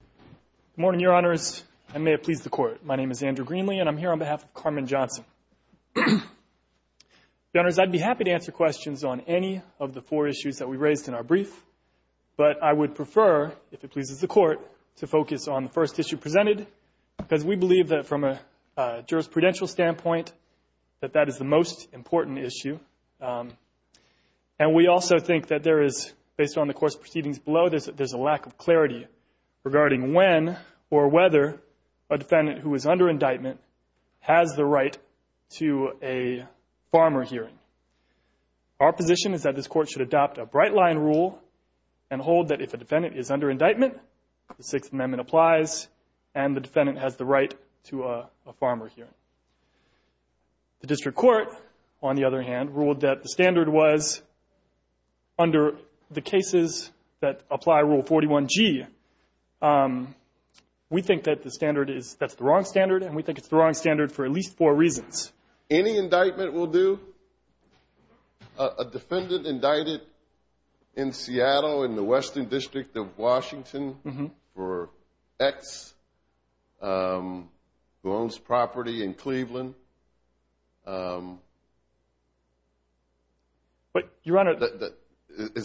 Good morning, Your Honors. I may have pleased the Court. My name is Andrew Greenlee, and I'm here on behalf of Carmen Johnson. Your Honors, I'd be happy to answer questions on any of the four issues that we raised in our brief, but I would prefer, if it pleases the Court, to focus on the first issue presented, because we believe that from a jurisprudential standpoint that that is the most important issue. And we also think that there is, based on the course proceedings below, there's a lack of clarity regarding when or whether a defendant who is under indictment has the right to a farmer hearing. Our position is that this Court should adopt a bright-line rule and hold that if a defendant is under indictment, the Sixth Amendment applies, and the defendant has the right to a farmer hearing. The District Court, on the other hand, ruled that the standard was, under the cases that apply Rule 41G, we think that the standard is, that's the wrong standard, and we think it's the wrong standard for at least four reasons. Any indictment will do. A defendant indicted in Seattle, in the Western District of Washington, for X, who owns property in Cleveland. Is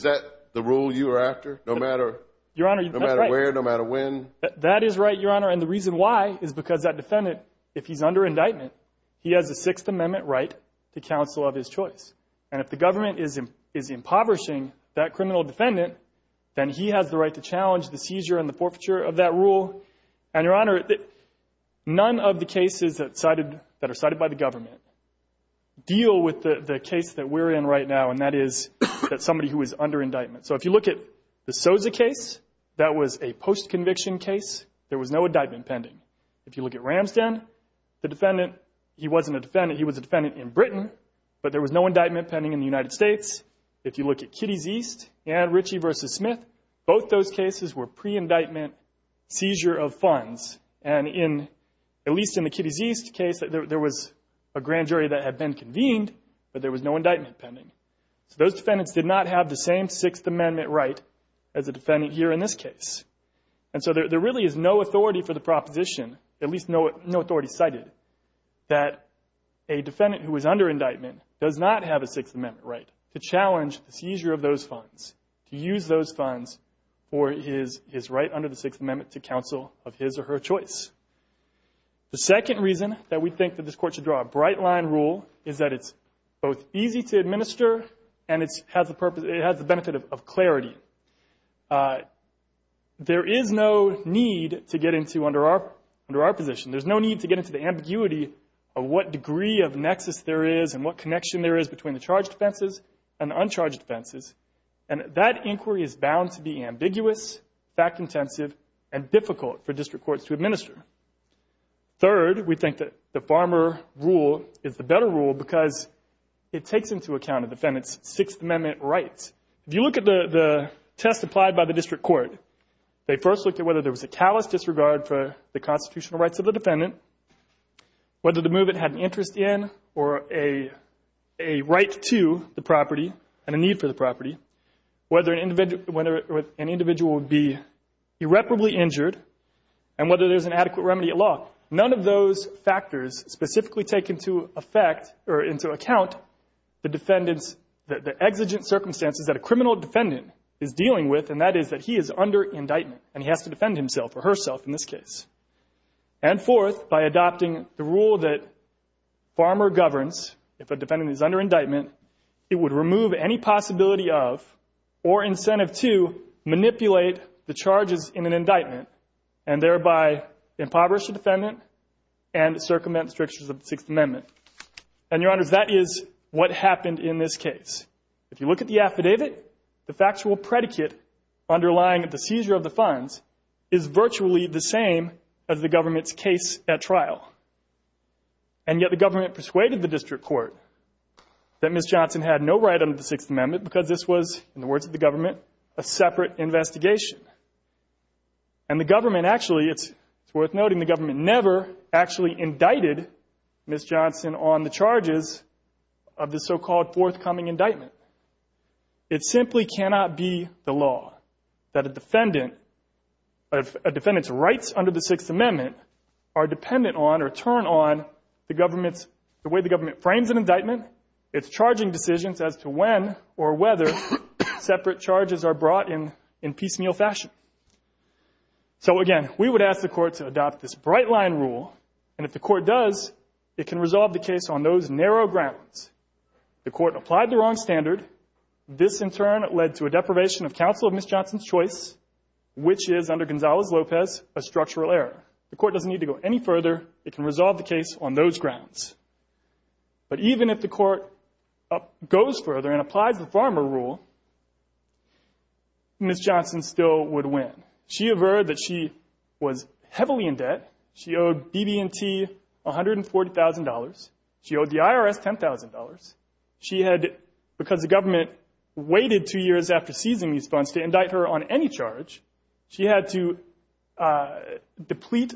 that the rule you are after, no matter where, no matter when? That is right, Your Honor. And the reason why is because that defendant, if he's under indictment, he has a Sixth Amendment right to counsel of his choice. And if the government is impoverishing that criminal defendant, then he has the right to challenge the seizure and the forfeiture of that rule. And, Your Honor, none of the cases that are cited by the government deal with the case that we're in right now, and that is that somebody who is under indictment. So if you look at the Soza case, that was a post-conviction case. There was no indictment pending. If you look at Ramsden, the defendant, he wasn't a defendant. He was a defendant in Britain, but there was no indictment pending in the United States. If you look at Kitties East and Ritchie v. Smith, both those cases were pre-indictment seizure of funds. And in, at least in the Kitties East case, there was a grand jury that had been convened, but there was no indictment pending. So those defendants did not have the same Sixth Amendment right as the defendant here in this case. And so there really is no authority for the proposition, at least no authority cited, that a defendant who is under indictment does not have a Sixth Amendment right to challenge the seizure of those funds, to use those funds for his right under the Sixth Amendment to counsel of his or her choice. The second reason that we think that this Court should draw a bright-line rule is that it's both easy to administer and it has the benefit of clarity. There is no need to get into, under our position, there's no need to get into the ambiguity of what degree of nexus there is and what connection there is between the charged offenses and the uncharged offenses. And that inquiry is bound to be ambiguous, fact-intensive, and difficult for district courts to administer. Third, we think that the Farmer rule is the better rule because it takes into account a defendant's Sixth Amendment rights. If you look at the test applied by the district court, they first looked at whether there was a callous disregard for the constitutional rights of the defendant, whether the movement had an interest in or a right to the property and a need for the property, whether an individual would be irreparably injured, and whether there's an adequate remedy at law. None of those factors specifically take into effect or into account the defendant's, the exigent circumstances that a criminal defendant is dealing with, and that is that he is under indictment and he has to defend himself or herself in this case. And fourth, by adopting the rule that Farmer governs, if a defendant is under indictment, it would remove any possibility of or incentive to manipulate the charges in an indictment and thereby impoverish the defendant and circumvent the strictures of the Sixth Amendment. And, Your Honors, that is what happened in this case. If you look at the affidavit, the factual predicate underlying the seizure of the funds is virtually the same as the government's case at trial. And yet the government persuaded the district court that Ms. Johnson had no right under the Sixth Amendment because this was, in the words of the government, a separate investigation. And the government actually, it's worth noting, the government never actually indicted Ms. Johnson on the charges of the so-called forthcoming indictment. It simply cannot be the law that a defendant's rights under the Sixth Amendment are dependent on or turn on the way the government frames an indictment, its charging decisions as to when or whether separate charges are brought in piecemeal fashion. So, again, we would ask the court to adopt this bright-line rule, and if the court does, it can resolve the case on those narrow grounds. The court applied the wrong standard. This, in turn, led to a deprivation of counsel of Ms. Johnson's choice, which is, under Gonzalez-Lopez, a structural error. The court doesn't need to go any further. It can resolve the case on those grounds. But even if the court goes further and applies the farmer rule, Ms. Johnson still would win. She averred that she was heavily in debt. She owed BB&T $140,000. She owed the IRS $10,000. She had, because the government waited two years after seizing these funds to indict her on any charge, she had to deplete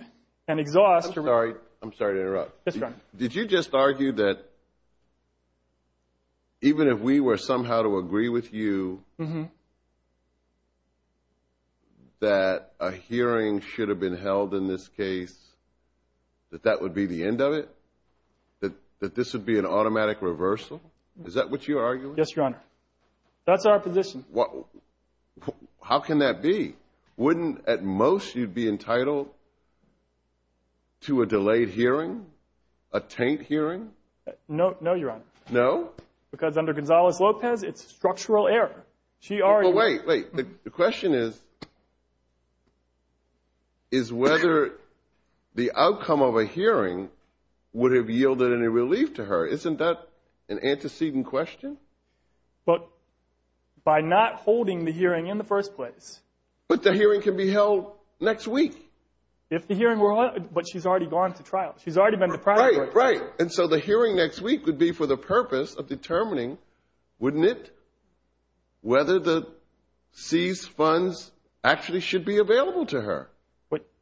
and exhaust. I'm sorry to interrupt. Did you just argue that, even if we were somehow to agree with you that a hearing should have been held in this case, that that would be the end of it? That this would be an automatic reversal? Is that what you're arguing? Yes, Your Honor. That's our position. How can that be? Wouldn't, at most, you be entitled to a delayed hearing? A taint hearing? No, Your Honor. No? Because under Gonzalez-Lopez, it's structural error. She argued. Wait, wait. The question is, is whether the outcome of a hearing would have yielded any relief to her. Isn't that an antecedent question? But by not holding the hearing in the first place. But the hearing can be held next week. If the hearing were held, but she's already gone to trial. She's already been to trial. Right, right. And so the hearing next week would be for the purpose of determining, wouldn't it, whether the seized funds actually should be available to her.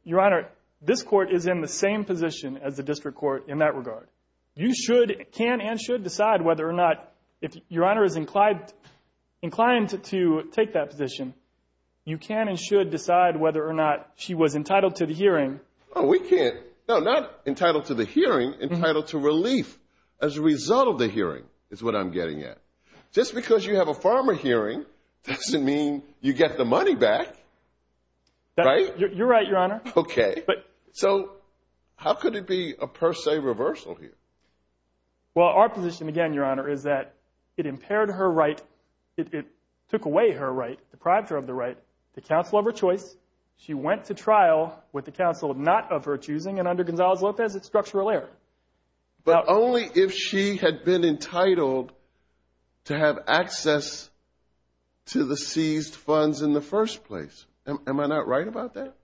Your Honor, this court is in the same position as the district court in that regard. You should, can, and should decide whether or not, if Your Honor is inclined to take that position, you can and should decide whether or not she was entitled to the hearing. Oh, we can't. No, not entitled to the hearing. Entitled to relief as a result of the hearing is what I'm getting at. Just because you have a farmer hearing doesn't mean you get the money back. Right? You're right, Your Honor. Okay. So how could it be a per se reversal here? Well, our position again, Your Honor, is that it impaired her right. It took away her right, deprived her of the right, the counsel of her choice. She went to trial with the counsel not of her choosing. And under Gonzalez-Lopez, it's structural error. But only if she had been entitled to have access to the seized funds in the first place. Am I not right about that?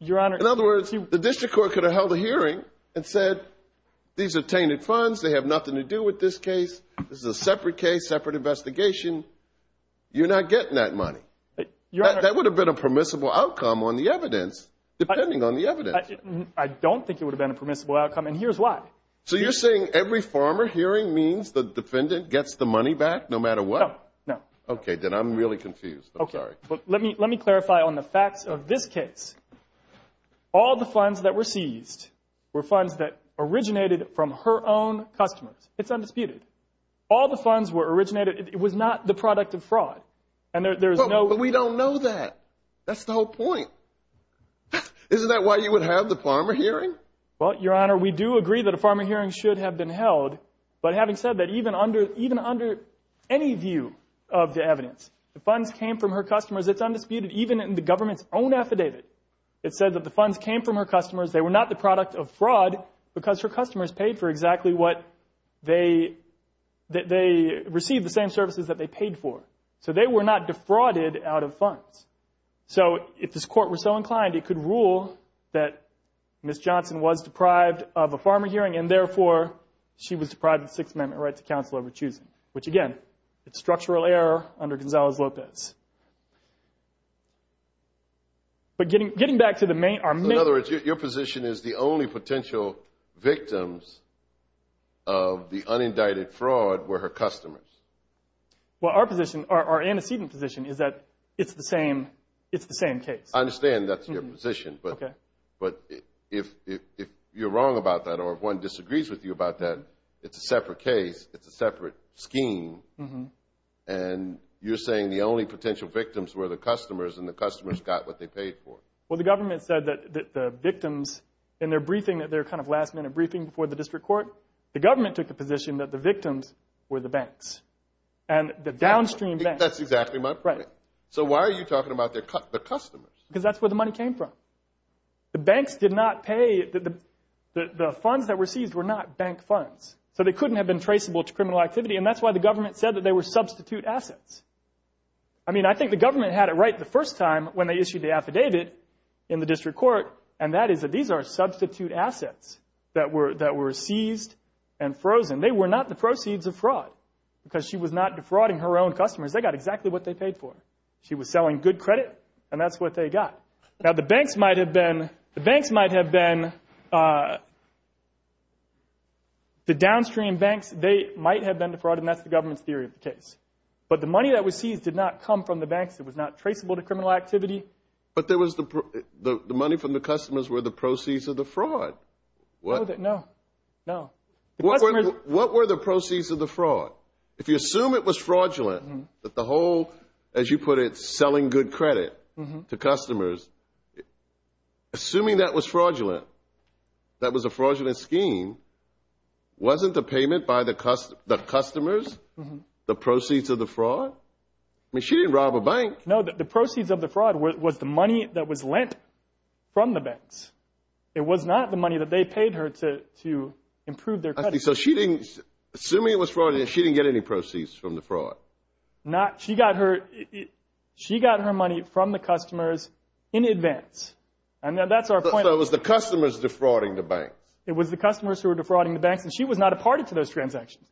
Your Honor. In other words, the district court could have held a hearing and said, these are tainted funds, they have nothing to do with this case, this is a separate case, separate investigation, you're not getting that money. That would have been a permissible outcome on the evidence, depending on the evidence. I don't think it would have been a permissible outcome, and here's why. So you're saying every farmer hearing means the defendant gets the money back no matter what? No, no. Okay. Then I'm really confused. Okay. I'm sorry. Let me clarify on the facts of this case. All the funds that were seized were funds that originated from her own customers. It's undisputed. All the funds were originated, it was not the product of fraud. But we don't know that. That's the whole point. Isn't that why you would have the farmer hearing? Well, Your Honor, we do agree that a farmer hearing should have been held. But having said that, even under any view of the evidence, the funds came from her customers. It's undisputed, even in the government's own affidavit. It said that the funds came from her customers, they were not the product of fraud, because her customers paid for exactly what they received, the same services that they paid for. So they were not defrauded out of funds. So if this Court were so inclined, it could rule that Ms. Johnson was deprived of a farmer hearing, and therefore she was deprived of the Sixth Amendment right to counsel over choosing, which, again, it's structural error under Gonzales-Lopez. But getting back to the main argument. In other words, your position is the only potential victims of the unindicted fraud were her customers. Well, our position, our antecedent position, is that it's the same case. I understand that's your position, but if you're wrong about that or if one disagrees with you about that, it's a separate case, it's a separate scheme, and you're saying the only potential victims were the customers and the customers got what they paid for. Well, the government said that the victims in their briefing, their kind of last-minute briefing before the District Court, the government took the position that the victims were the banks and the downstream banks. That's exactly my point. Right. So why are you talking about the customers? Because that's where the money came from. The banks did not pay. The funds that were seized were not bank funds, so they couldn't have been traceable to criminal activity, and that's why the government said that they were substitute assets. I mean, I think the government had it right the first time when they issued the affidavit in the District Court, and that is that these are substitute assets that were seized and frozen. They were not the proceeds of fraud because she was not defrauding her own customers. They got exactly what they paid for. She was selling good credit, and that's what they got. Now, the banks might have been the downstream banks. They might have been defrauded, and that's the government's theory of the case. But the money that was seized did not come from the banks. It was not traceable to criminal activity. But the money from the customers were the proceeds of the fraud. No, no. What were the proceeds of the fraud? If you assume it was fraudulent, that the whole, as you put it, selling good credit to customers, assuming that was fraudulent, that was a fraudulent scheme, wasn't the payment by the customers the proceeds of the fraud? I mean, she didn't rob a bank. No, the proceeds of the fraud was the money that was lent from the banks. It was not the money that they paid her to improve their credit. So assuming it was fraudulent, she didn't get any proceeds from the fraud? She got her money from the customers in advance, and that's our point. So it was the customers defrauding the banks? It was the customers who were defrauding the banks, and she was not a party to those transactions.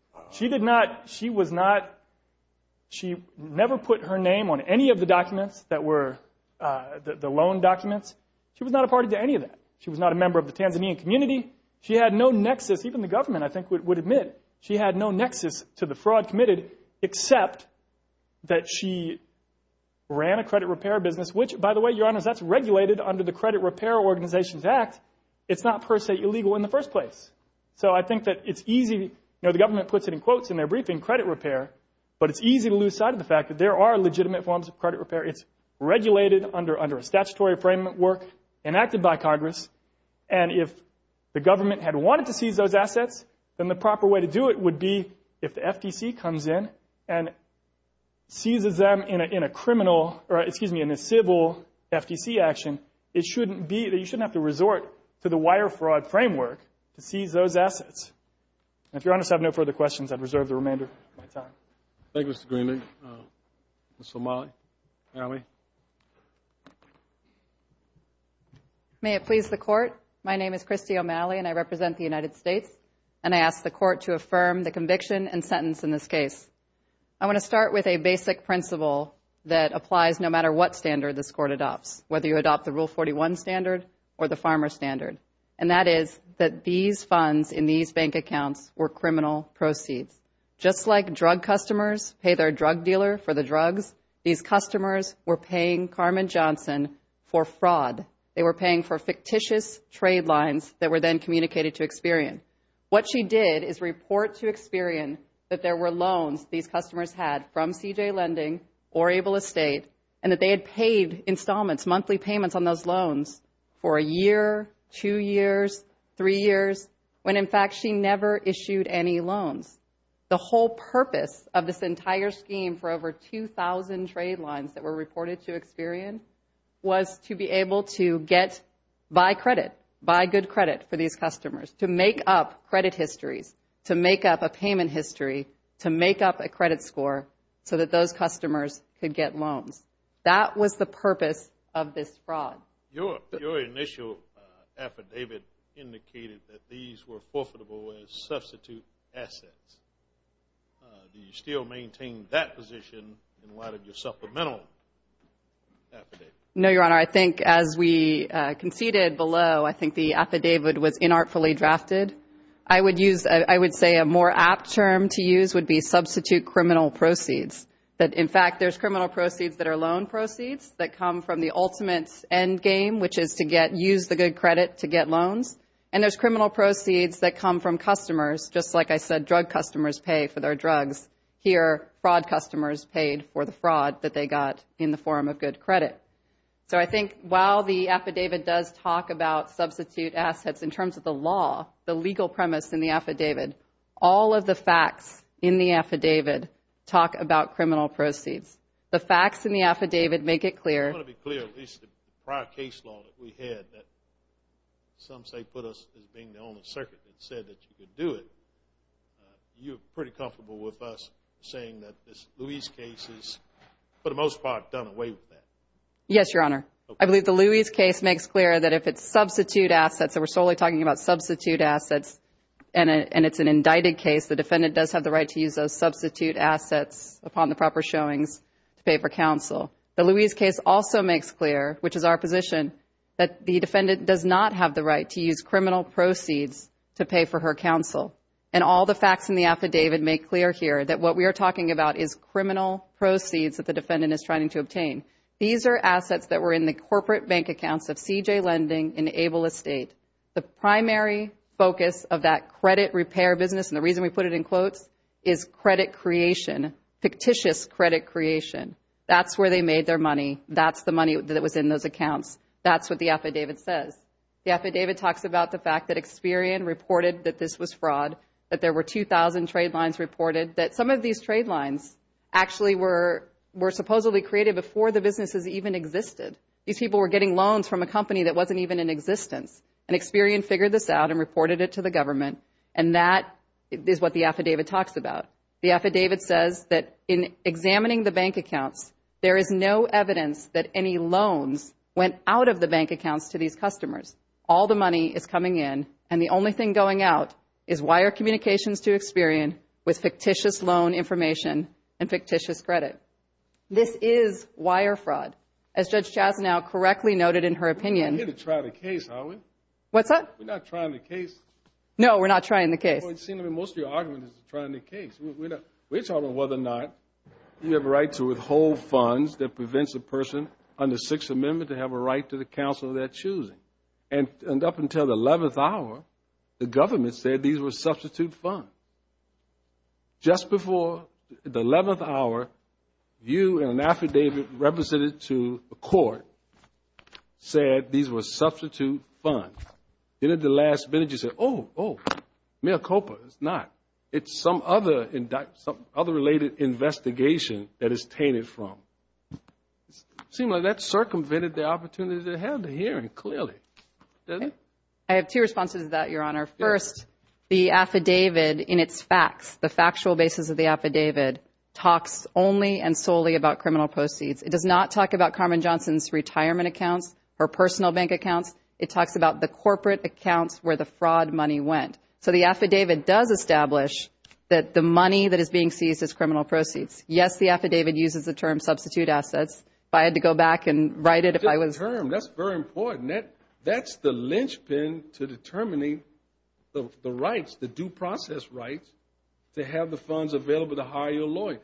She never put her name on any of the documents that were the loan documents. She was not a party to any of that. She was not a member of the Tanzanian community. She had no nexus. Even the government, I think, would admit she had no nexus to the fraud committed except that she ran a credit repair business, which, by the way, Your Honors, that's regulated under the Credit Repair Organizations Act. It's not per se illegal in the first place. So I think that it's easy. You know, the government puts it in quotes in their briefing, credit repair, but it's easy to lose sight of the fact that there are legitimate forms of credit repair. It's regulated under a statutory framework enacted by Congress, and if the government had wanted to seize those assets, then the proper way to do it would be if the FTC comes in and seizes them in a criminal or, excuse me, in a civil FTC action, it shouldn't be that you shouldn't have to resort to the wire fraud framework to seize those assets. And if Your Honors have no further questions, I'd reserve the remainder of my time. Thank you, Mr. Greenlee. Ms. O'Malley. O'Malley. May it please the Court. My name is Christy O'Malley, and I represent the United States, and I ask the Court to affirm the conviction and sentence in this case. I want to start with a basic principle that applies no matter what standard this Court adopts, whether you adopt the Rule 41 standard or the farmer standard, and that is that these funds in these bank accounts were criminal proceeds. Just like drug customers pay their drug dealer for the drugs, these customers were paying Carmen Johnson for fraud. They were paying for fictitious trade lines that were then communicated to Experian. What she did is report to Experian that there were loans these customers had from CJ Lending or Able Estate, and that they had paid installments, monthly payments on those loans for a year, two years, three years, when in fact she never issued any loans. The whole purpose of this entire scheme for over 2,000 trade lines that were reported to Experian was to be able to get by credit, buy good credit for these customers, to make up credit histories, to make up a payment history, to make up a credit score so that those customers could get loans. That was the purpose of this fraud. Your initial affidavit indicated that these were forfeitable as substitute assets. Do you still maintain that position, and why did you supplemental affidavit? No, Your Honor. I think as we conceded below, I think the affidavit was inartfully drafted. I would say a more apt term to use would be substitute criminal proceeds. In fact, there's criminal proceeds that are loan proceeds that come from the ultimate end game, which is to use the good credit to get loans, and there's criminal proceeds that come from customers. Just like I said, drug customers pay for their drugs. Here, fraud customers paid for the fraud that they got in the form of good credit. So I think while the affidavit does talk about substitute assets in terms of the law, the legal premise in the affidavit, all of the facts in the affidavit talk about criminal proceeds. The facts in the affidavit make it clear. I want to be clear, at least the prior case law that we had, that some say put us as being the only circuit that said that you could do it. You're pretty comfortable with us saying that this Louise case is, for the most part, done away with that? Yes, Your Honor. I believe the Louise case makes clear that if it's substitute assets, and we're solely talking about substitute assets and it's an indicted case, the defendant does have the right to use those substitute assets upon the proper showings to pay for counsel. The Louise case also makes clear, which is our position, that the defendant does not have the right to use criminal proceeds to pay for her counsel. And all the facts in the affidavit make clear here that what we are talking about is criminal proceeds that the defendant is trying to obtain. These are assets that were in the corporate bank accounts of C.J. Lending and Able Estate. The primary focus of that credit repair business, and the reason we put it in quotes, is credit creation, fictitious credit creation. That's where they made their money. That's the money that was in those accounts. That's what the affidavit says. The affidavit talks about the fact that Experian reported that this was fraud, that there were 2,000 trade lines reported, that some of these trade lines actually were supposedly created before the businesses even existed. These people were getting loans from a company that wasn't even in existence. And Experian figured this out and reported it to the government, and that is what the affidavit talks about. The affidavit says that in examining the bank accounts, there is no evidence that any loans went out of the bank accounts to these customers. All the money is coming in, and the only thing going out is wire communications to Experian with fictitious loan information and fictitious credit. This is wire fraud. As Judge Chasnow correctly noted in her opinion, We're going to try the case, aren't we? What's that? We're not trying the case. No, we're not trying the case. Well, it seems to me most of your argument is trying the case. We're talking whether or not you have a right to withhold funds that prevents a person under Sixth Amendment to have a right to the counsel of their choosing. And up until the 11th hour, the government said these were substitute funds. Just before the 11th hour, you and an affidavit represented to a court said these were substitute funds. Then at the last minute you said, oh, oh, mea culpa, it's not. It's some other related investigation that it's tainted from. It seems like that circumvented the opportunity to have the hearing clearly, doesn't it? I have two responses to that, Your Honor. First, the affidavit in its facts, the factual basis of the affidavit, talks only and solely about criminal proceeds. It does not talk about Carmen Johnson's retirement accounts, her personal bank accounts. It talks about the corporate accounts where the fraud money went. So the affidavit does establish that the money that is being seized is criminal proceeds. Yes, the affidavit uses the term substitute assets. If I had to go back and write it, I would. That's a good term. That's very important. That's the linchpin to determining the rights, the due process rights, to have the funds available to hire your lawyer.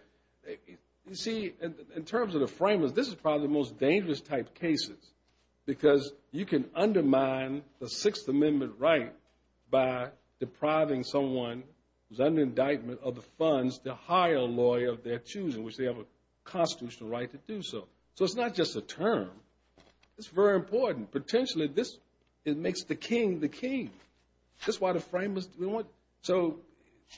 You see, in terms of the framers, this is probably the most dangerous type of cases because you can undermine the Sixth Amendment right by depriving someone who's under indictment of the funds to hire a lawyer of their choosing, which they have a constitutional right to do so. So it's not just a term. It's very important. Potentially, this makes the king the king. That's why the framers do it. So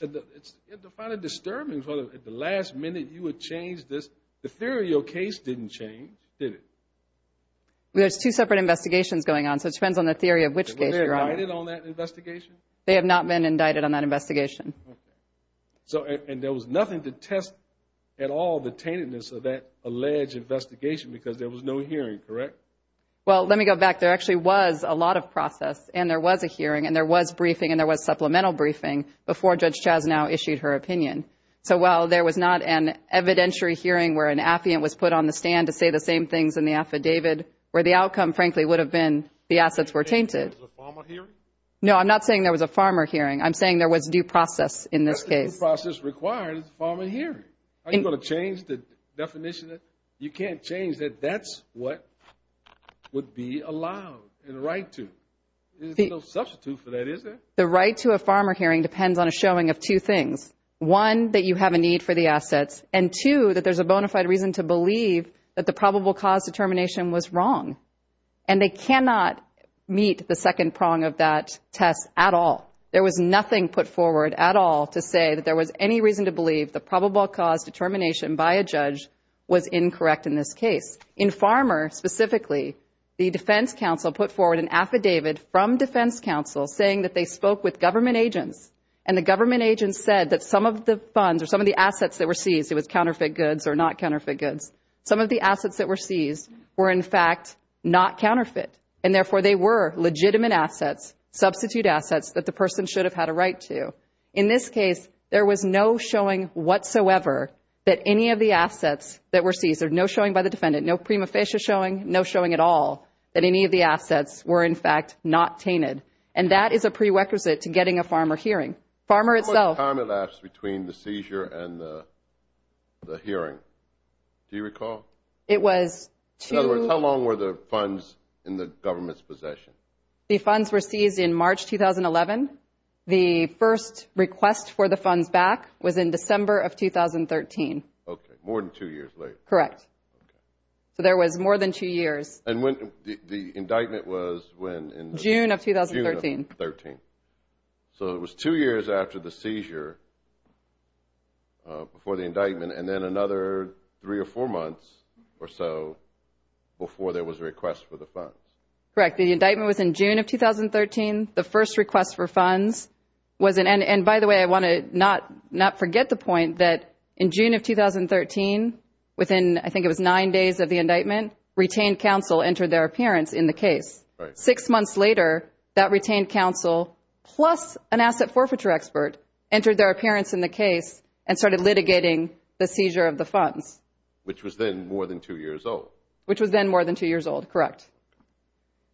it's kind of disturbing. At the last minute, you would change this. The theory of your case didn't change, did it? There's two separate investigations going on, so it depends on the theory of which case you're on. Have they been indicted on that investigation? They have not been indicted on that investigation. And there was nothing to test at all the taintedness of that alleged investigation because there was no hearing, correct? Well, let me go back. There actually was a lot of process, and there was a hearing, and there was briefing, and there was supplemental briefing before Judge Chaznau issued her opinion. So while there was not an evidentiary hearing where an affiant was put on the stand to say the same things in the affidavit, where the outcome, frankly, would have been the assets were tainted. You're saying there was a farmer hearing? No, I'm not saying there was a farmer hearing. I'm saying there was due process in this case. That's the due process required is a farmer hearing. Are you going to change the definition? You can't change that. That's what would be allowed and a right to. There's no substitute for that, is there? The right to a farmer hearing depends on a showing of two things. One, that you have a need for the assets. And two, that there's a bona fide reason to believe that the probable cause determination was wrong. And they cannot meet the second prong of that test at all. There was nothing put forward at all to say that there was any reason to believe the probable cause determination by a judge was incorrect in this case. In Farmer specifically, the defense counsel put forward an affidavit from defense counsel saying that they spoke with government agents, and the government agents said that some of the funds or some of the assets that were seized, it was counterfeit goods or not counterfeit goods, some of the assets that were seized were, in fact, not counterfeit. And, therefore, they were legitimate assets, substitute assets that the person should have had a right to. In this case, there was no showing whatsoever that any of the assets that were seized, there's no showing by the defendant, no prima facie showing, no showing at all that any of the assets were, in fact, not tainted. And that is a prerequisite to getting a Farmer hearing. Farmer itself. How much time elapsed between the seizure and the hearing? Do you recall? It was two. In other words, how long were the funds in the government's possession? The funds were seized in March 2011. The first request for the funds back was in December of 2013. Okay, more than two years later. Correct. Okay. So there was more than two years. And when, the indictment was when? June of 2013. June of 2013. So it was two years after the seizure, before the indictment, and then another three or four months or so before there was a request for the funds. Correct. The indictment was in June of 2013. The first request for funds was in, and by the way, I want to not forget the point that in June of 2013, within, I think it was nine days of the indictment, retained counsel entered their appearance in the case. Six months later, that retained counsel, plus an asset forfeiture expert, entered their appearance in the case and started litigating the seizure of the funds. Which was then more than two years old. Which was then more than two years old. Correct.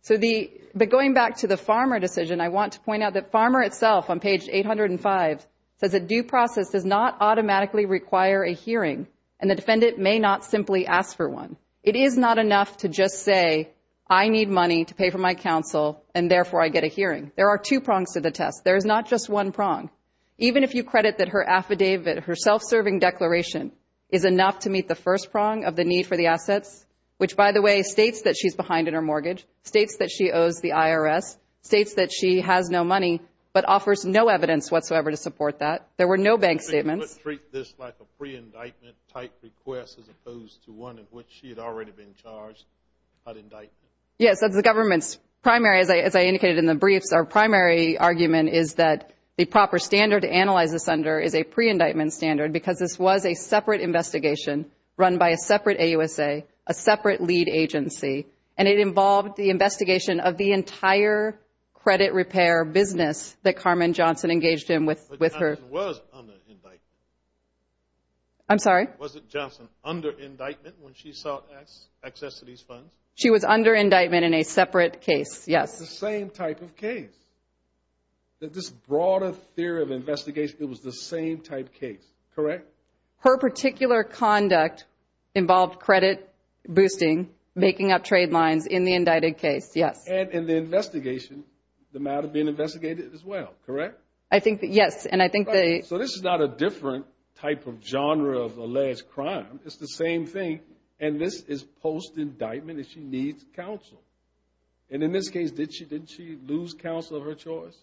So the, but going back to the farmer decision, I want to point out that Farmer itself on page 805 says a due process does not automatically require a hearing, and the defendant may not simply ask for one. It is not enough to just say, I need money to pay for my counsel, and therefore I get a hearing. There are two prongs to the test. There is not just one prong. Even if you credit that her affidavit, her self-serving declaration, is enough to meet the first prong of the need for the assets, which, by the way, states that she's behind in her mortgage, states that she owes the IRS, states that she has no money, but offers no evidence whatsoever to support that. There were no bank statements. I would treat this like a pre-indictment type request, as opposed to one in which she had already been charged an indictment. Yes, as the government's primary, as I indicated in the briefs, our primary argument is that the proper standard to analyze this under is a pre-indictment standard, because this was a separate investigation run by a separate AUSA, a separate lead agency, and it involved the investigation of the entire credit repair business that Carmen Johnson engaged in with her. Carmen Johnson was under indictment. I'm sorry? Was it Johnson under indictment when she sought access to these funds? She was under indictment in a separate case, yes. It's the same type of case. This broader theory of investigation, it was the same type case, correct? Her particular conduct involved credit boosting, making up trade lines in the indicted case, yes. And in the investigation, the matter being investigated as well, correct? Yes. So this is not a different type of genre of alleged crime. It's the same thing, and this is post-indictment, and she needs counsel. And in this case, didn't she lose counsel of her choice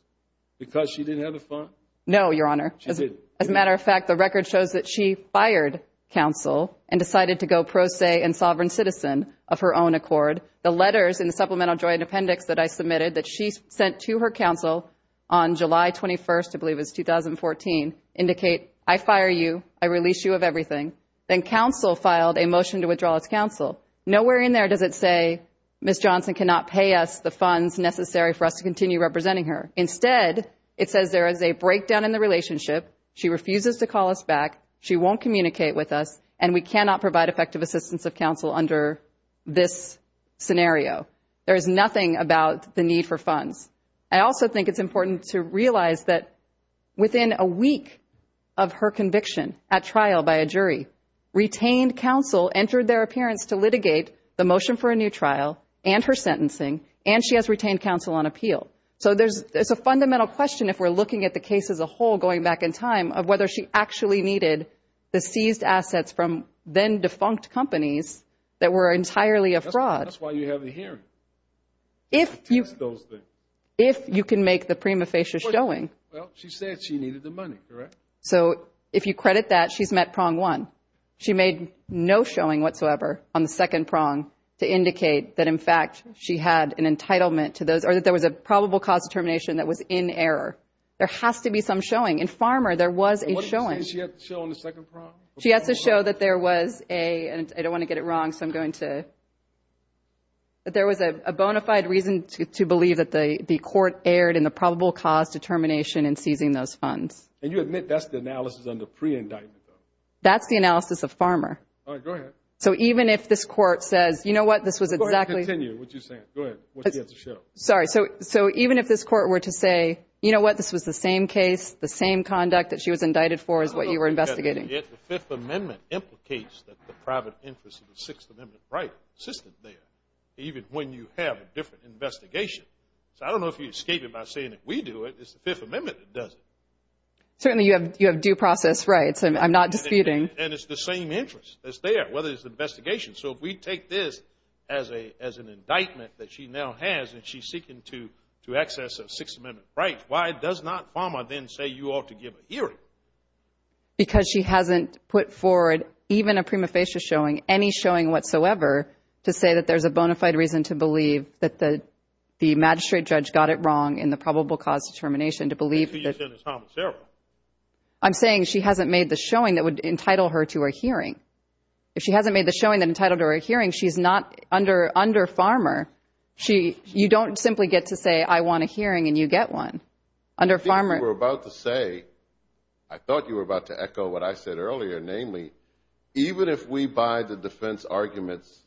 because she didn't have the funds? No, Your Honor. She didn't. As a matter of fact, the record shows that she fired counsel and decided to go pro se and sovereign citizen of her own accord. The letters in the supplemental joint appendix that I submitted that she sent to her counsel on July 21st, I believe it was 2014, indicate I fire you, I release you of everything. Then counsel filed a motion to withdraw its counsel. Nowhere in there does it say Ms. Johnson cannot pay us the funds necessary for us to continue representing her. Instead, it says there is a breakdown in the relationship, she refuses to call us back, she won't communicate with us, and we cannot provide effective assistance of counsel under this scenario. There is nothing about the need for funds. I also think it's important to realize that within a week of her conviction at trial by a jury, retained counsel entered their appearance to litigate the motion for a new trial and her sentencing, and she has retained counsel on appeal. So there's a fundamental question if we're looking at the case as a whole going back in time of whether she actually needed the seized assets from then defunct companies that were entirely a fraud. That's why you have the hearing. If you can make the prima facie showing. Well, she said she needed the money, correct? So if you credit that, she's met prong one. She made no showing whatsoever on the second prong to indicate that, in fact, she had an entitlement to those or that there was a probable cause determination that was in error. There has to be some showing. In Farmer, there was a showing. What did she say she had to show on the second prong? She has to show that there was a, and I don't want to get it wrong, so I'm going to, that there was a bona fide reason to believe that the court erred in the probable cause determination in seizing those funds. And you admit that's the analysis under pre-indictment, though? That's the analysis of Farmer. All right, go ahead. So even if this Court says, you know what, this was exactly. Go ahead and continue what you're saying. Go ahead. What did she have to show? Sorry. So even if this Court were to say, you know what, this was the same case, the same conduct that she was indicted for is what you were investigating. I don't know if the Fifth Amendment implicates the private interest in the Sixth Amendment right system there, even when you have a different investigation. So I don't know if you escape it by saying that we do it. It's the Fifth Amendment that does it. Certainly you have due process rights. I'm not disputing. And it's the same interest that's there, whether it's an investigation. So if we take this as an indictment that she now has and she's seeking to access a Sixth Amendment right, why does not Farmer then say you ought to give a hearing? Because she hasn't put forward, even a prima facie showing, any showing whatsoever to say that there's a bona fide reason to believe that the magistrate judge got it wrong in the probable cause determination to believe that. I'm saying she hasn't made the showing that would entitle her to a hearing. If she hasn't made the showing that entitled her to a hearing, she's not under Farmer. You don't simply get to say I want a hearing and you get one. Under Farmer. I think you were about to say, I thought you were about to echo what I said earlier, namely, even if we buy the defense arguments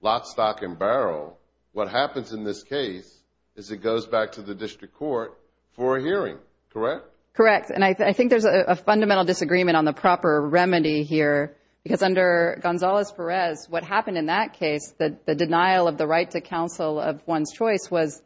lock, stock, and barrel, what happens in this case is it goes back to the district court for a hearing. Correct? Correct. And I think there's a fundamental disagreement on the proper remedy here because under Gonzalez-Perez, what happened in that case, the denial of the right to counsel of one's choice, was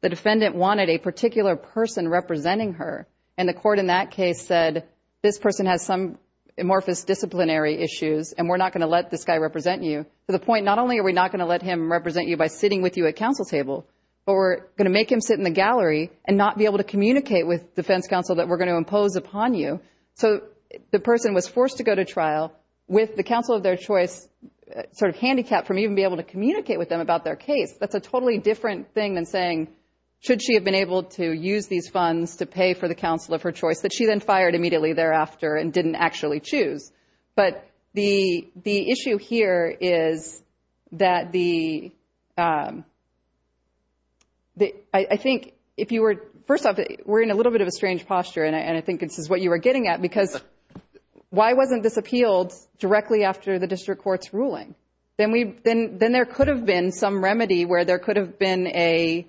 the defendant wanted a particular person representing her, and the court in that case said this person has some amorphous disciplinary issues and we're not going to let this guy represent you to the point not only are we not going to let him represent you by sitting with you at counsel table, but we're going to make him sit in the gallery and not be able to communicate with defense counsel that we're going to impose upon you. So the person was forced to go to trial with the counsel of their choice sort of handicapped from even being able to communicate with them about their case. That's a totally different thing than saying should she have been able to use these funds to pay for the counsel of her choice that she then fired immediately thereafter and didn't actually choose. But the issue here is that the – I think if you were – first off, we're in a little bit of a strange posture and I think this is what you were getting at because why wasn't this appealed directly after the district court's ruling? Then there could have been some remedy where there could have been a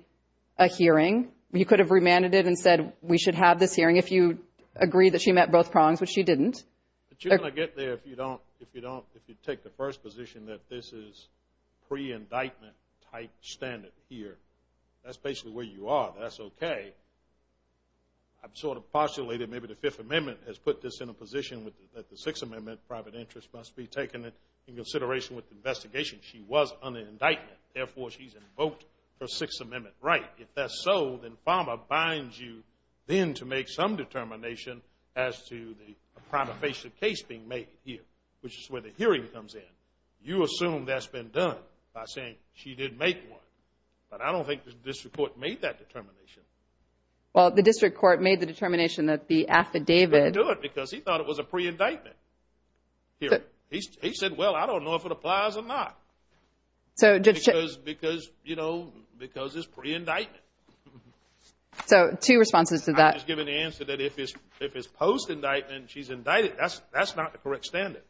hearing. You could have remanded it and said we should have this hearing if you agree that she met both prongs, which she didn't. But you're going to get there if you don't – if you take the first position that this is pre-indictment type standard here. That's basically where you are. That's okay. I've sort of postulated maybe the Fifth Amendment has put this in a position that the Sixth Amendment, private interest must be taken into consideration with the investigation. She was under indictment. Therefore, she's invoked her Sixth Amendment right. If that's so, then FAMA binds you then to make some determination as to the prima facie case being made here, which is where the hearing comes in. You assume that's been done by saying she didn't make one. But I don't think the district court made that determination. Well, the district court made the determination that the affidavit – But he didn't do it because he thought it was a pre-indictment hearing. He said, well, I don't know if it applies or not. Because, you know, because it's pre-indictment. So two responses to that. I'm just giving the answer that if it's post-indictment, she's indicted. That's not the correct standard.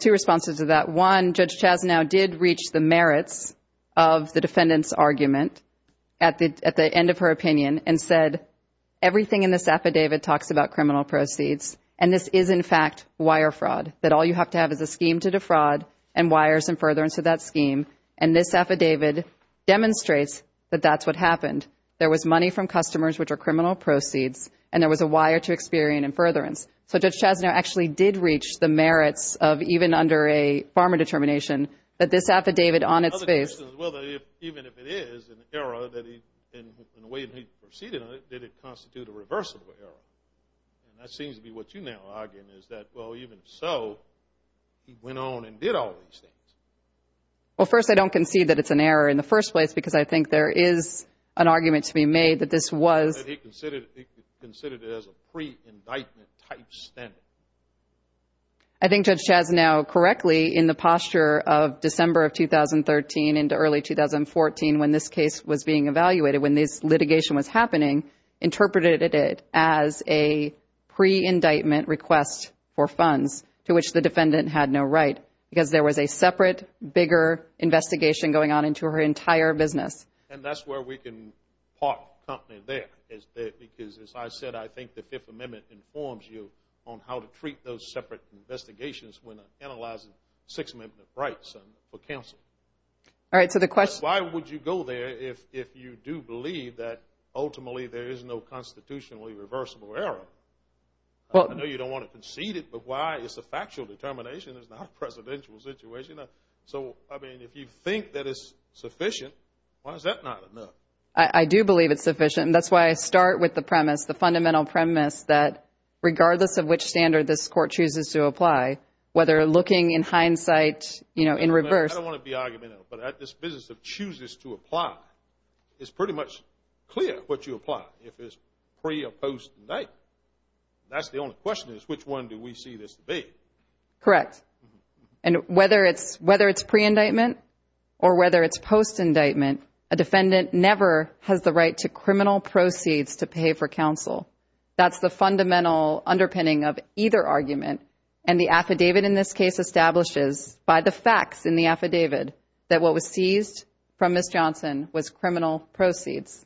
Two responses to that. One, Judge Chasnow did reach the merits of the defendant's argument at the end of her opinion and said everything in this affidavit talks about criminal proceeds, and this is, in fact, wire fraud, that all you have to have is a scheme to defraud and wires and further. And this affidavit demonstrates that that's what happened. There was money from customers, which are criminal proceeds, and there was a wire to experience and furtherance. So Judge Chasnow actually did reach the merits of even under a farmer determination that this affidavit on its face – Well, even if it is an error in the way that he proceeded on it, did it constitute a reversible error? And that seems to be what you're now arguing is that, well, even so, he went on and did all these things. Well, first, I don't concede that it's an error in the first place because I think there is an argument to be made that this was – That he considered it as a pre-indictment type standard. I think Judge Chasnow, correctly, in the posture of December of 2013 into early 2014 when this case was being evaluated, when this litigation was happening, interpreted it as a pre-indictment request for funds to which the defendant had no right because there was a separate, bigger investigation going on into her entire business. And that's where we can park the company there because, as I said, I think the Fifth Amendment informs you on how to treat those separate investigations when analyzing Sixth Amendment rights for counsel. All right, so the question – There is no constitutionally reversible error. I know you don't want to concede it, but why? It's a factual determination. It's not a presidential situation. So, I mean, if you think that it's sufficient, why is that not enough? I do believe it's sufficient, and that's why I start with the premise, the fundamental premise that regardless of which standard this court chooses to apply, whether looking in hindsight, you know, in reverse – I don't want to be argumentative, but at this business of chooses to apply, it's pretty much clear what you apply. If it's pre- or post-indictment. That's the only question is, which one do we see this to be? Correct. And whether it's pre-indictment or whether it's post-indictment, a defendant never has the right to criminal proceeds to pay for counsel. That's the fundamental underpinning of either argument, and the affidavit in this case establishes by the facts in the affidavit that what was seized from Ms. Johnson was criminal proceeds,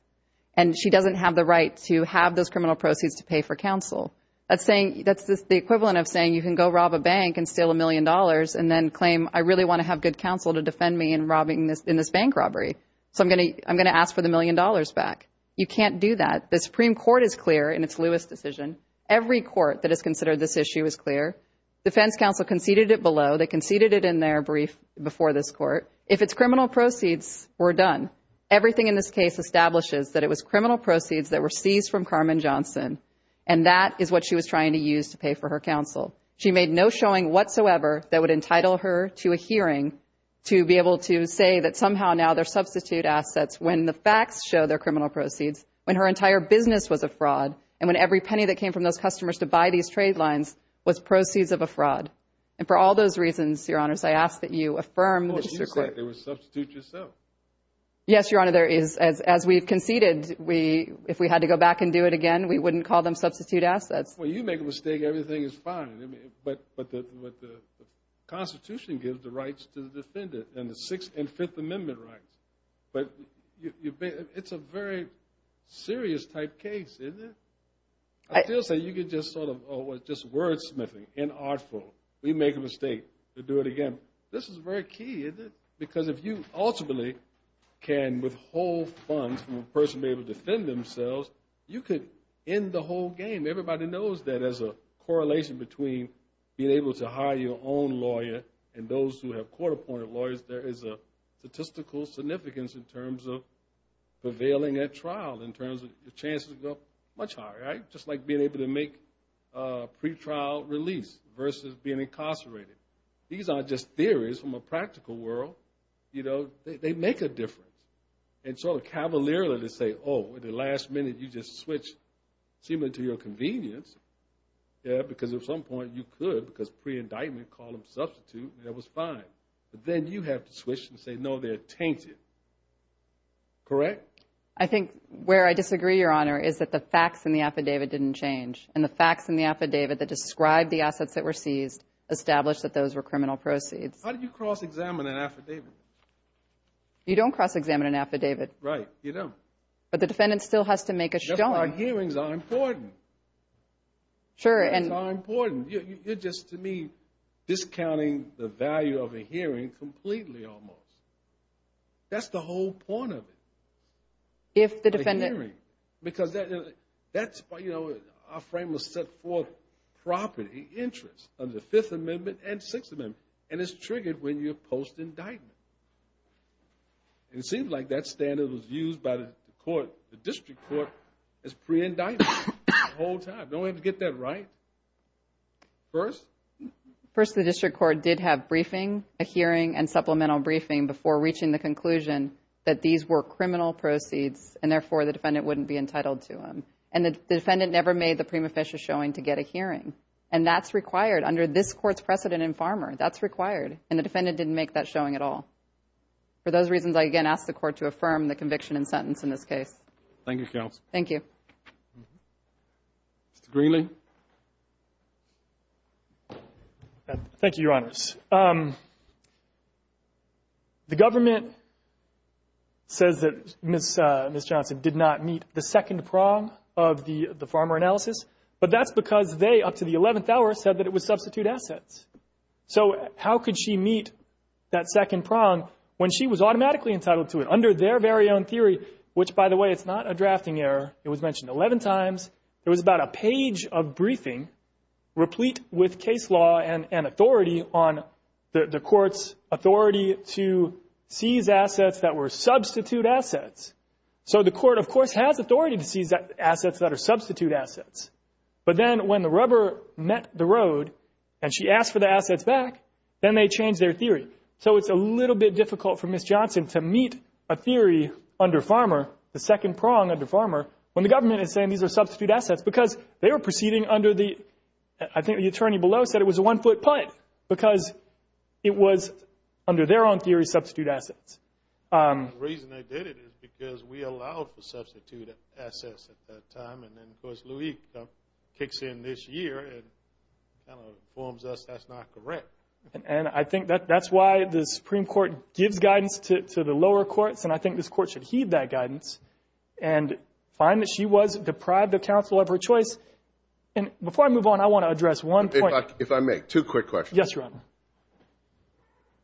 and she doesn't have the right to have those criminal proceeds to pay for counsel. That's the equivalent of saying you can go rob a bank and steal a million dollars and then claim I really want to have good counsel to defend me in this bank robbery, so I'm going to ask for the million dollars back. You can't do that. The Supreme Court is clear in its Lewis decision. Every court that has considered this issue is clear. Defense counsel conceded it below. They conceded it in their brief before this court. If it's criminal proceeds, we're done. Everything in this case establishes that it was criminal proceeds that were seized from Carmen Johnson, and that is what she was trying to use to pay for her counsel. She made no showing whatsoever that would entitle her to a hearing to be able to say that somehow now their substitute assets, when the facts show they're criminal proceeds, when her entire business was a fraud, and when every penny that came from those customers to buy these trade lines was proceeds of a fraud. And for all those reasons, Your Honors, I ask that you affirm the Supreme Court. Well, you said they were substitute yourself. Yes, Your Honor, there is. As we've conceded, if we had to go back and do it again, we wouldn't call them substitute assets. Well, you make a mistake, everything is fine. But the Constitution gives the rights to the defendant and the Sixth and Fifth Amendment rights. But it's a very serious type case, isn't it? I feel as though you could just sort of, oh, it's just wordsmithing, inartful. We make a mistake, we do it again. This is very key, isn't it? Because if you ultimately can withhold funds from a person being able to defend themselves, you could end the whole game. Everybody knows that there's a correlation between being able to hire your own lawyer and those who have court appointed lawyers. There is a statistical significance in terms of prevailing at trial, in terms of your chances to go much higher, right? Just like being able to make a pretrial release versus being incarcerated. These aren't just theories from a practical world. They make a difference. And sort of cavalierly to say, oh, at the last minute, you just switched seemingly to your convenience, because at some point you could, because pre-indictment called them substitute, and that was fine. But then you have to switch and say, no, they're tainted. Correct? I think where I disagree, Your Honor, is that the facts in the affidavit didn't change. And the facts in the affidavit that describe the assets that were seized established that those were criminal proceeds. How do you cross-examine an affidavit? You don't cross-examine an affidavit. Right, you don't. But the defendant still has to make a showing. That's why hearings are important. Sure, and... the value of a hearing completely almost. That's the whole point of it. If the defendant... A hearing. Because that's, you know, our frame was set forth property, interest under the Fifth Amendment and Sixth Amendment. And it's triggered when you post indictment. It seems like that standard was used by the court, the district court, as pre-indictment the whole time. Don't we have to get that right? First? First, the district court did have briefing, a hearing and supplemental briefing before reaching the conclusion that these were criminal proceeds and therefore the defendant wouldn't be entitled to them. And the defendant never made the prima facie showing to get a hearing. And that's required under this court's precedent in Farmer. That's required. And the defendant didn't make that showing at all. For those reasons, I again ask the court to affirm the conviction and sentence in this case. Thank you, counsel. Thank you. Mr. Greenlee. Thank you, Your Honors. The government says that Ms. Johnson did not meet the second prong of the Farmer analysis, but that's because they, up to the 11th hour, said that it was substitute assets. So how could she meet that second prong when she was automatically entitled to it under their very own theory, which, by the way, it's not a drafting error. It was mentioned 11 times. It was about a page of briefing replete with case law and authority on the court's authority to seize assets that were substitute assets. So the court, of course, has authority to seize assets that are substitute assets. But then when the rubber met the road and she asked for the assets back, then they changed their theory. So it's a little bit difficult for Ms. Johnson to meet a theory under Farmer, the second prong under Farmer, when the government is saying these are substitute assets because they were proceeding under the, I think the attorney below said it was a one-foot putt because it was, under their own theory, substitute assets. The reason they did it is because we allowed for substitute assets at that time. And then, of course, Louie kicks in this year and kind of informs us that's not correct. And I think that's why the Supreme Court gives guidance to the lower courts, and I think this court should heed that guidance and find that she was deprived of counsel of her choice. And before I move on, I want to address one point. If I may, two quick questions. Yes, Your Honor.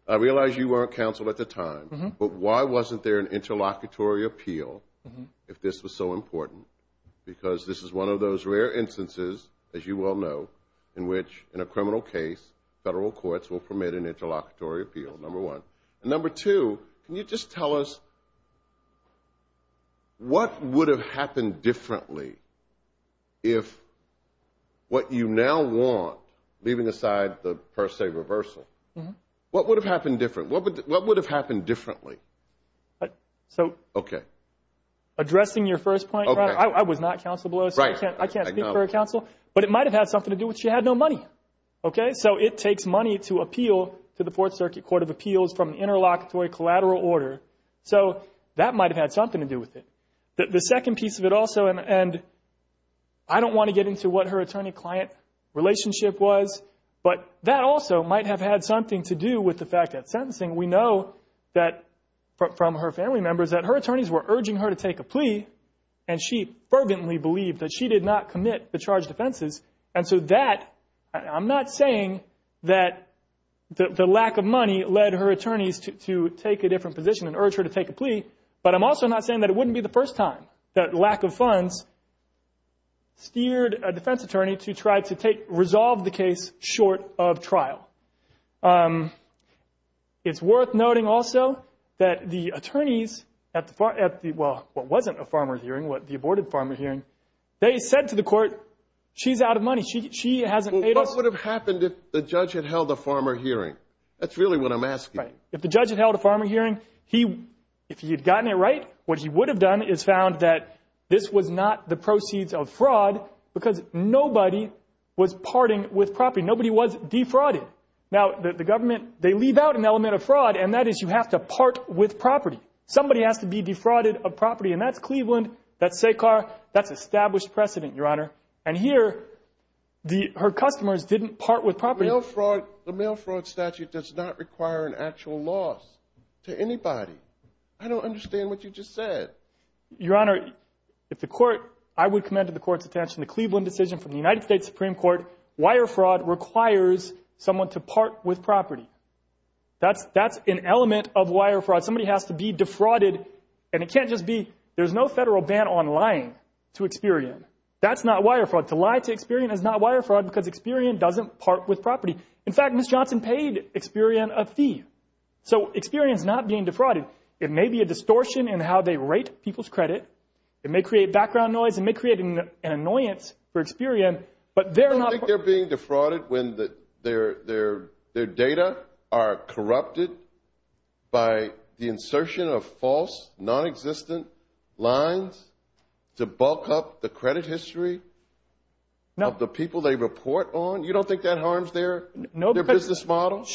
I realize you weren't counsel at the time, but why wasn't there an interlocutory appeal if this was so important? Because this is one of those rare instances, as you well know, in which, in a criminal case, federal courts will permit an interlocutory appeal, number one. And number two, can you just tell us what would have happened differently if what you now want, leaving aside the, per se, reversal, what would have happened differently? What would have happened differently? Okay. Addressing your first point, Your Honor, I was not counsel below, so I can't speak for counsel, but it might have had something to do with she had no money. Okay? So it takes money to appeal to the Fourth Circuit Court of Appeals from an interlocutory collateral order. So that might have had something to do with it. The second piece of it also, and I don't want to get into what her attorney-client relationship was, but that also might have had something to do with the fact that sentencing, we know that from her family members, that her attorneys were urging her to take a plea, and she fervently believed that she did not commit the charged offenses. And so that, I'm not saying that the lack of money led her attorneys to take a different position and urge her to take a plea, but I'm also not saying that it wouldn't be the first time that lack of funds steered a defense attorney to try to resolve the case short of trial. It's worth noting also that the attorneys at the, well, what wasn't a farmer hearing, the aborted farmer hearing, they said to the court, she's out of money. She hasn't paid us. Well, what would have happened if the judge had held a farmer hearing? That's really what I'm asking. Right. If the judge had held a farmer hearing, if he had gotten it right, what he would have done is found that this was not the proceeds of fraud because nobody was parting with property. Nobody was defrauded. Now, the government, they leave out an element of fraud, and that is you have to part with property. Somebody has to be defrauded of property, and that's Cleveland, that's SACAR, that's established precedent, Your Honor. And here, her customers didn't part with property. The mail fraud statute does not require an actual loss to anybody. I don't understand what you just said. Your Honor, if the court, I would commend to the court's attention the Cleveland decision from the United States Supreme Court, wire fraud requires someone to part with property. That's an element of wire fraud. Somebody has to be defrauded, and it can't just be there's no federal ban on lying to Experian. That's not wire fraud. To lie to Experian is not wire fraud because Experian doesn't part with property. In fact, Ms. Johnson paid Experian a fee. So Experian is not being defrauded. It may be a distortion in how they rate people's credit. It may create background noise. It may create an annoyance for Experian. You don't think they're being defrauded when their data are corrupted by the insertion of false, non-existent lines to bulk up the credit history of the people they report on? You don't think that harms their business model?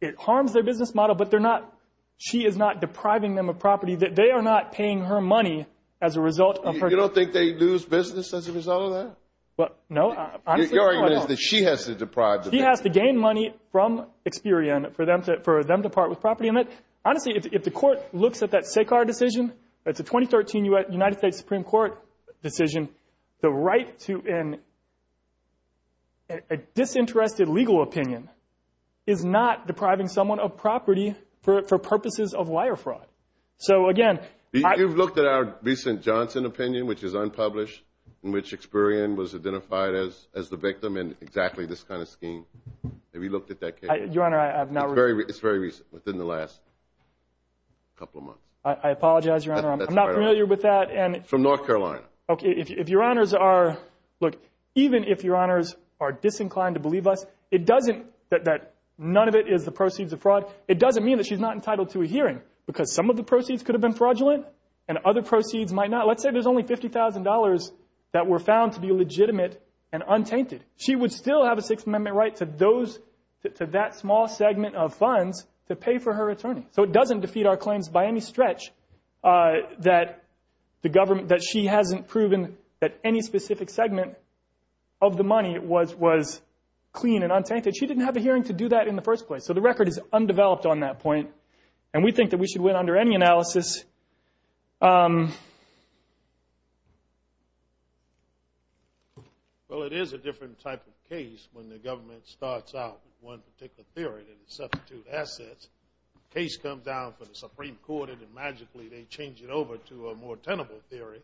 It harms their business model, but they're not, she is not depriving them of property. They are not paying her money as a result of her. You don't think they lose business as a result of that? No. Your argument is that she has to deprive them. She has to gain money from Experian for them to part with property. Honestly, if the court looks at that SACAR decision, that's a 2013 United States Supreme Court decision, the right to a disinterested legal opinion is not depriving someone of property for purposes of wire fraud. You've looked at our recent Johnson opinion, which is unpublished, in which Experian was identified as the victim in exactly this kind of scheme. Have you looked at that case? Your Honor, I have not. It's very recent, within the last couple of months. I apologize, Your Honor, I'm not familiar with that. From North Carolina. Okay, if Your Honors are, look, even if Your Honors are disinclined to believe us, that none of it is the proceeds of fraud, it doesn't mean that she's not entitled to a hearing because some of the proceeds could have been fraudulent and other proceeds might not. Let's say there's only $50,000 that were found to be legitimate and untainted. She would still have a Sixth Amendment right to that small segment of funds to pay for her attorney. So it doesn't defeat our claims by any stretch that she hasn't proven that any specific segment of the money was clean and untainted. She didn't have a hearing to do that in the first place. So the record is undeveloped on that point. And we think that we should win under any analysis. Well, it is a different type of case when the government starts out with one particular theory and substitutes assets. Case comes down for the Supreme Court and magically they change it over to a more tenable theory.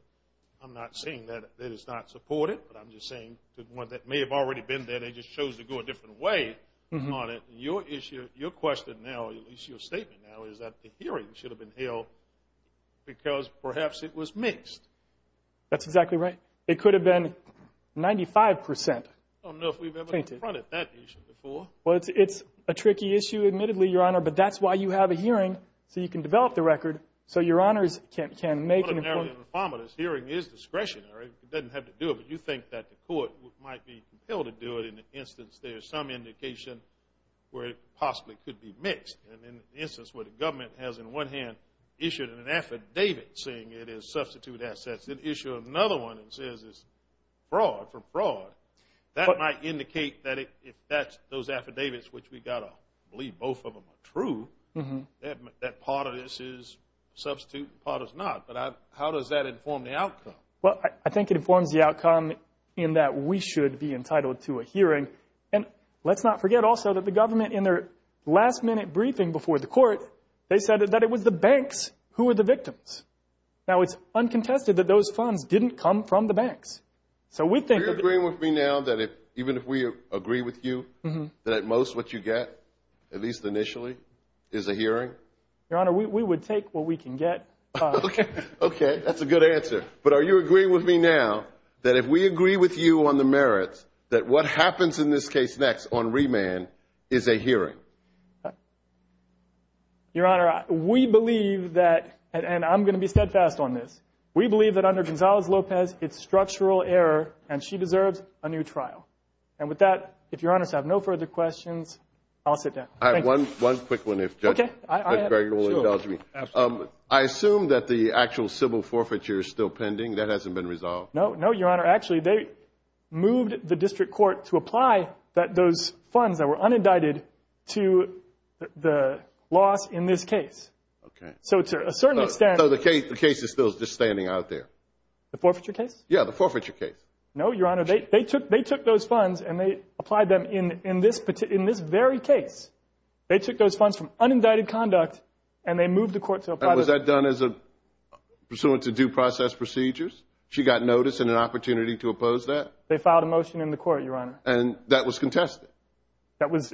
I'm not saying that it's not supported, but I'm just saying that one that may have already been there, they just chose to go a different way on it. Your issue, your question now, at least your statement now, is that the hearing should have been held because perhaps it was mixed. That's exactly right. It could have been 95%. I don't know if we've ever confronted that issue before. Well, it's a tricky issue, admittedly, Your Honor, but that's why you have a hearing so you can develop the record so Your Honors can make an important point. Hearing is discretionary. It doesn't have to do it, but you think that the court might be compelled to do it. In an instance, there is some indication where it possibly could be mixed. In an instance where the government has, in one hand, issued an affidavit saying it is substitute assets, it issues another one and says it's fraud for fraud. That might indicate that if those affidavits, which we've got to believe both of them are true, that part of this is substitute and part is not. But how does that inform the outcome? Well, I think it informs the outcome in that we should be entitled to a hearing. And let's not forget also that the government, in their last-minute briefing before the court, they said that it was the banks who were the victims. Now, it's uncontested that those funds didn't come from the banks. So we think that the… Do you agree with me now that even if we agree with you, that at most what you get, at least initially, is a hearing? Your Honor, we would take what we can get. Okay, that's a good answer. But are you agreeing with me now that if we agree with you on the merits, that what happens in this case next on remand is a hearing? Your Honor, we believe that, and I'm going to be steadfast on this, we believe that under Gonzalez-Lopez, it's structural error and she deserves a new trial. And with that, if Your Honor has no further questions, I'll sit down. I have one quick one if Judge Gregg will indulge me. I assume that the actual civil forfeiture is still pending. That hasn't been resolved? No, Your Honor. Actually, they moved the district court to apply those funds that were unindicted to the loss in this case. Okay. So to a certain extent… So the case is still just standing out there? The forfeiture case? Yeah, the forfeiture case. No, Your Honor. They took those funds and they applied them in this very case. They took those funds from unindicted conduct and they moved the court to apply those… And was that done pursuant to due process procedures? She got notice and an opportunity to oppose that? They filed a motion in the court, Your Honor. And that was contested? That was…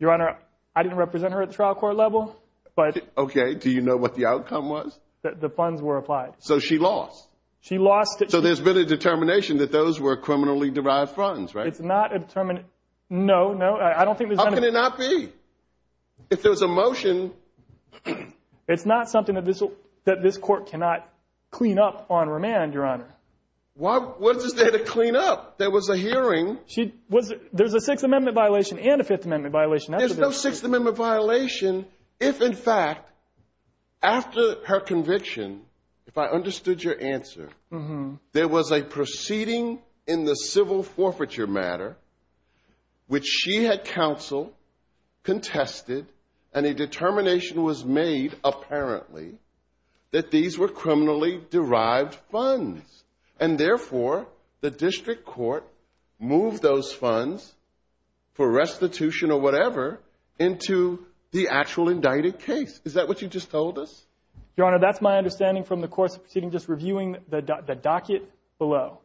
Your Honor, I didn't represent her at the trial court level, but… Okay. Do you know what the outcome was? The funds were applied. So she lost? She lost. So there's been a determination that those were criminally derived funds, right? It's not a determined… No, no. I don't think there's been a… How can it not be? If there was a motion… It's not something that this court cannot clean up on remand, Your Honor. What is there to clean up? There was a hearing. There's a Sixth Amendment violation and a Fifth Amendment violation. There's no Sixth Amendment violation if, in fact, after her conviction, if I understood your answer, there was a proceeding in the civil forfeiture matter, which she had counseled, contested, and a determination was made, apparently, that these were criminally derived funds. And therefore, the district court moved those funds for restitution or whatever into the actual indicted case. Is that what you just told us? Your Honor, that's my understanding from the course of proceeding, just reviewing the docket below.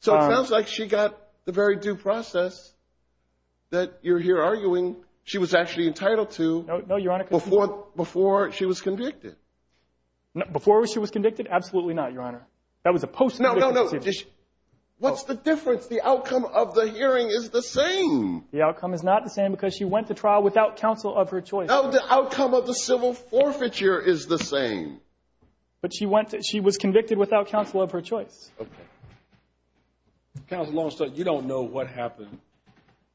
So it sounds like she got the very due process that you're here arguing she was actually entitled to before she was convicted. Before she was convicted? Absolutely not, Your Honor. That was a post-conviction. No, no, no. What's the difference? The outcome of the hearing is the same. The outcome is not the same because she went to trial without counsel of her choice. No, the outcome of the civil forfeiture is the same. But she was convicted without counsel of her choice. Okay. Counsel Longstreet, you don't know what happened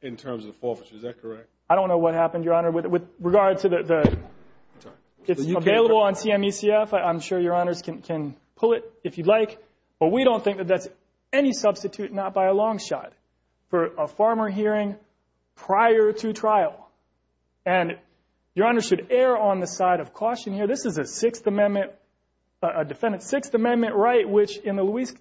in terms of the forfeiture. Is that correct? I don't know what happened, Your Honor, with regard to the— I'm sorry. It's available on CMUCF. I'm sure Your Honors can pull it if you'd like. But we don't think that that's any substitute, not by a long shot, for a farmer hearing prior to trial. And Your Honor should err on the side of caution here. This is a Sixth Amendment, a defendant's Sixth Amendment right, which in the Louise—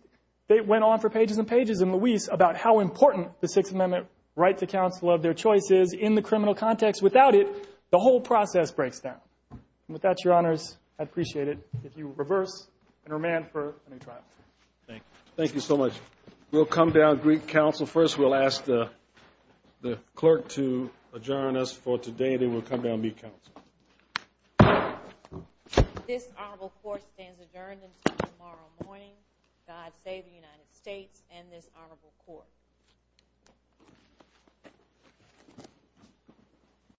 they went on for pages and pages in Louise about how important the Sixth Amendment right to counsel of their choice is. In the criminal context, without it, the whole process breaks down. And with that, Your Honors, I'd appreciate it if you would reverse and remand for a new trial. Thank you. Thank you so much. We'll come down to Greek counsel first. We'll ask the clerk to adjourn us for today, then we'll come down and meet counsel. This honorable court stands adjourned until tomorrow morning. God save the United States and this honorable court.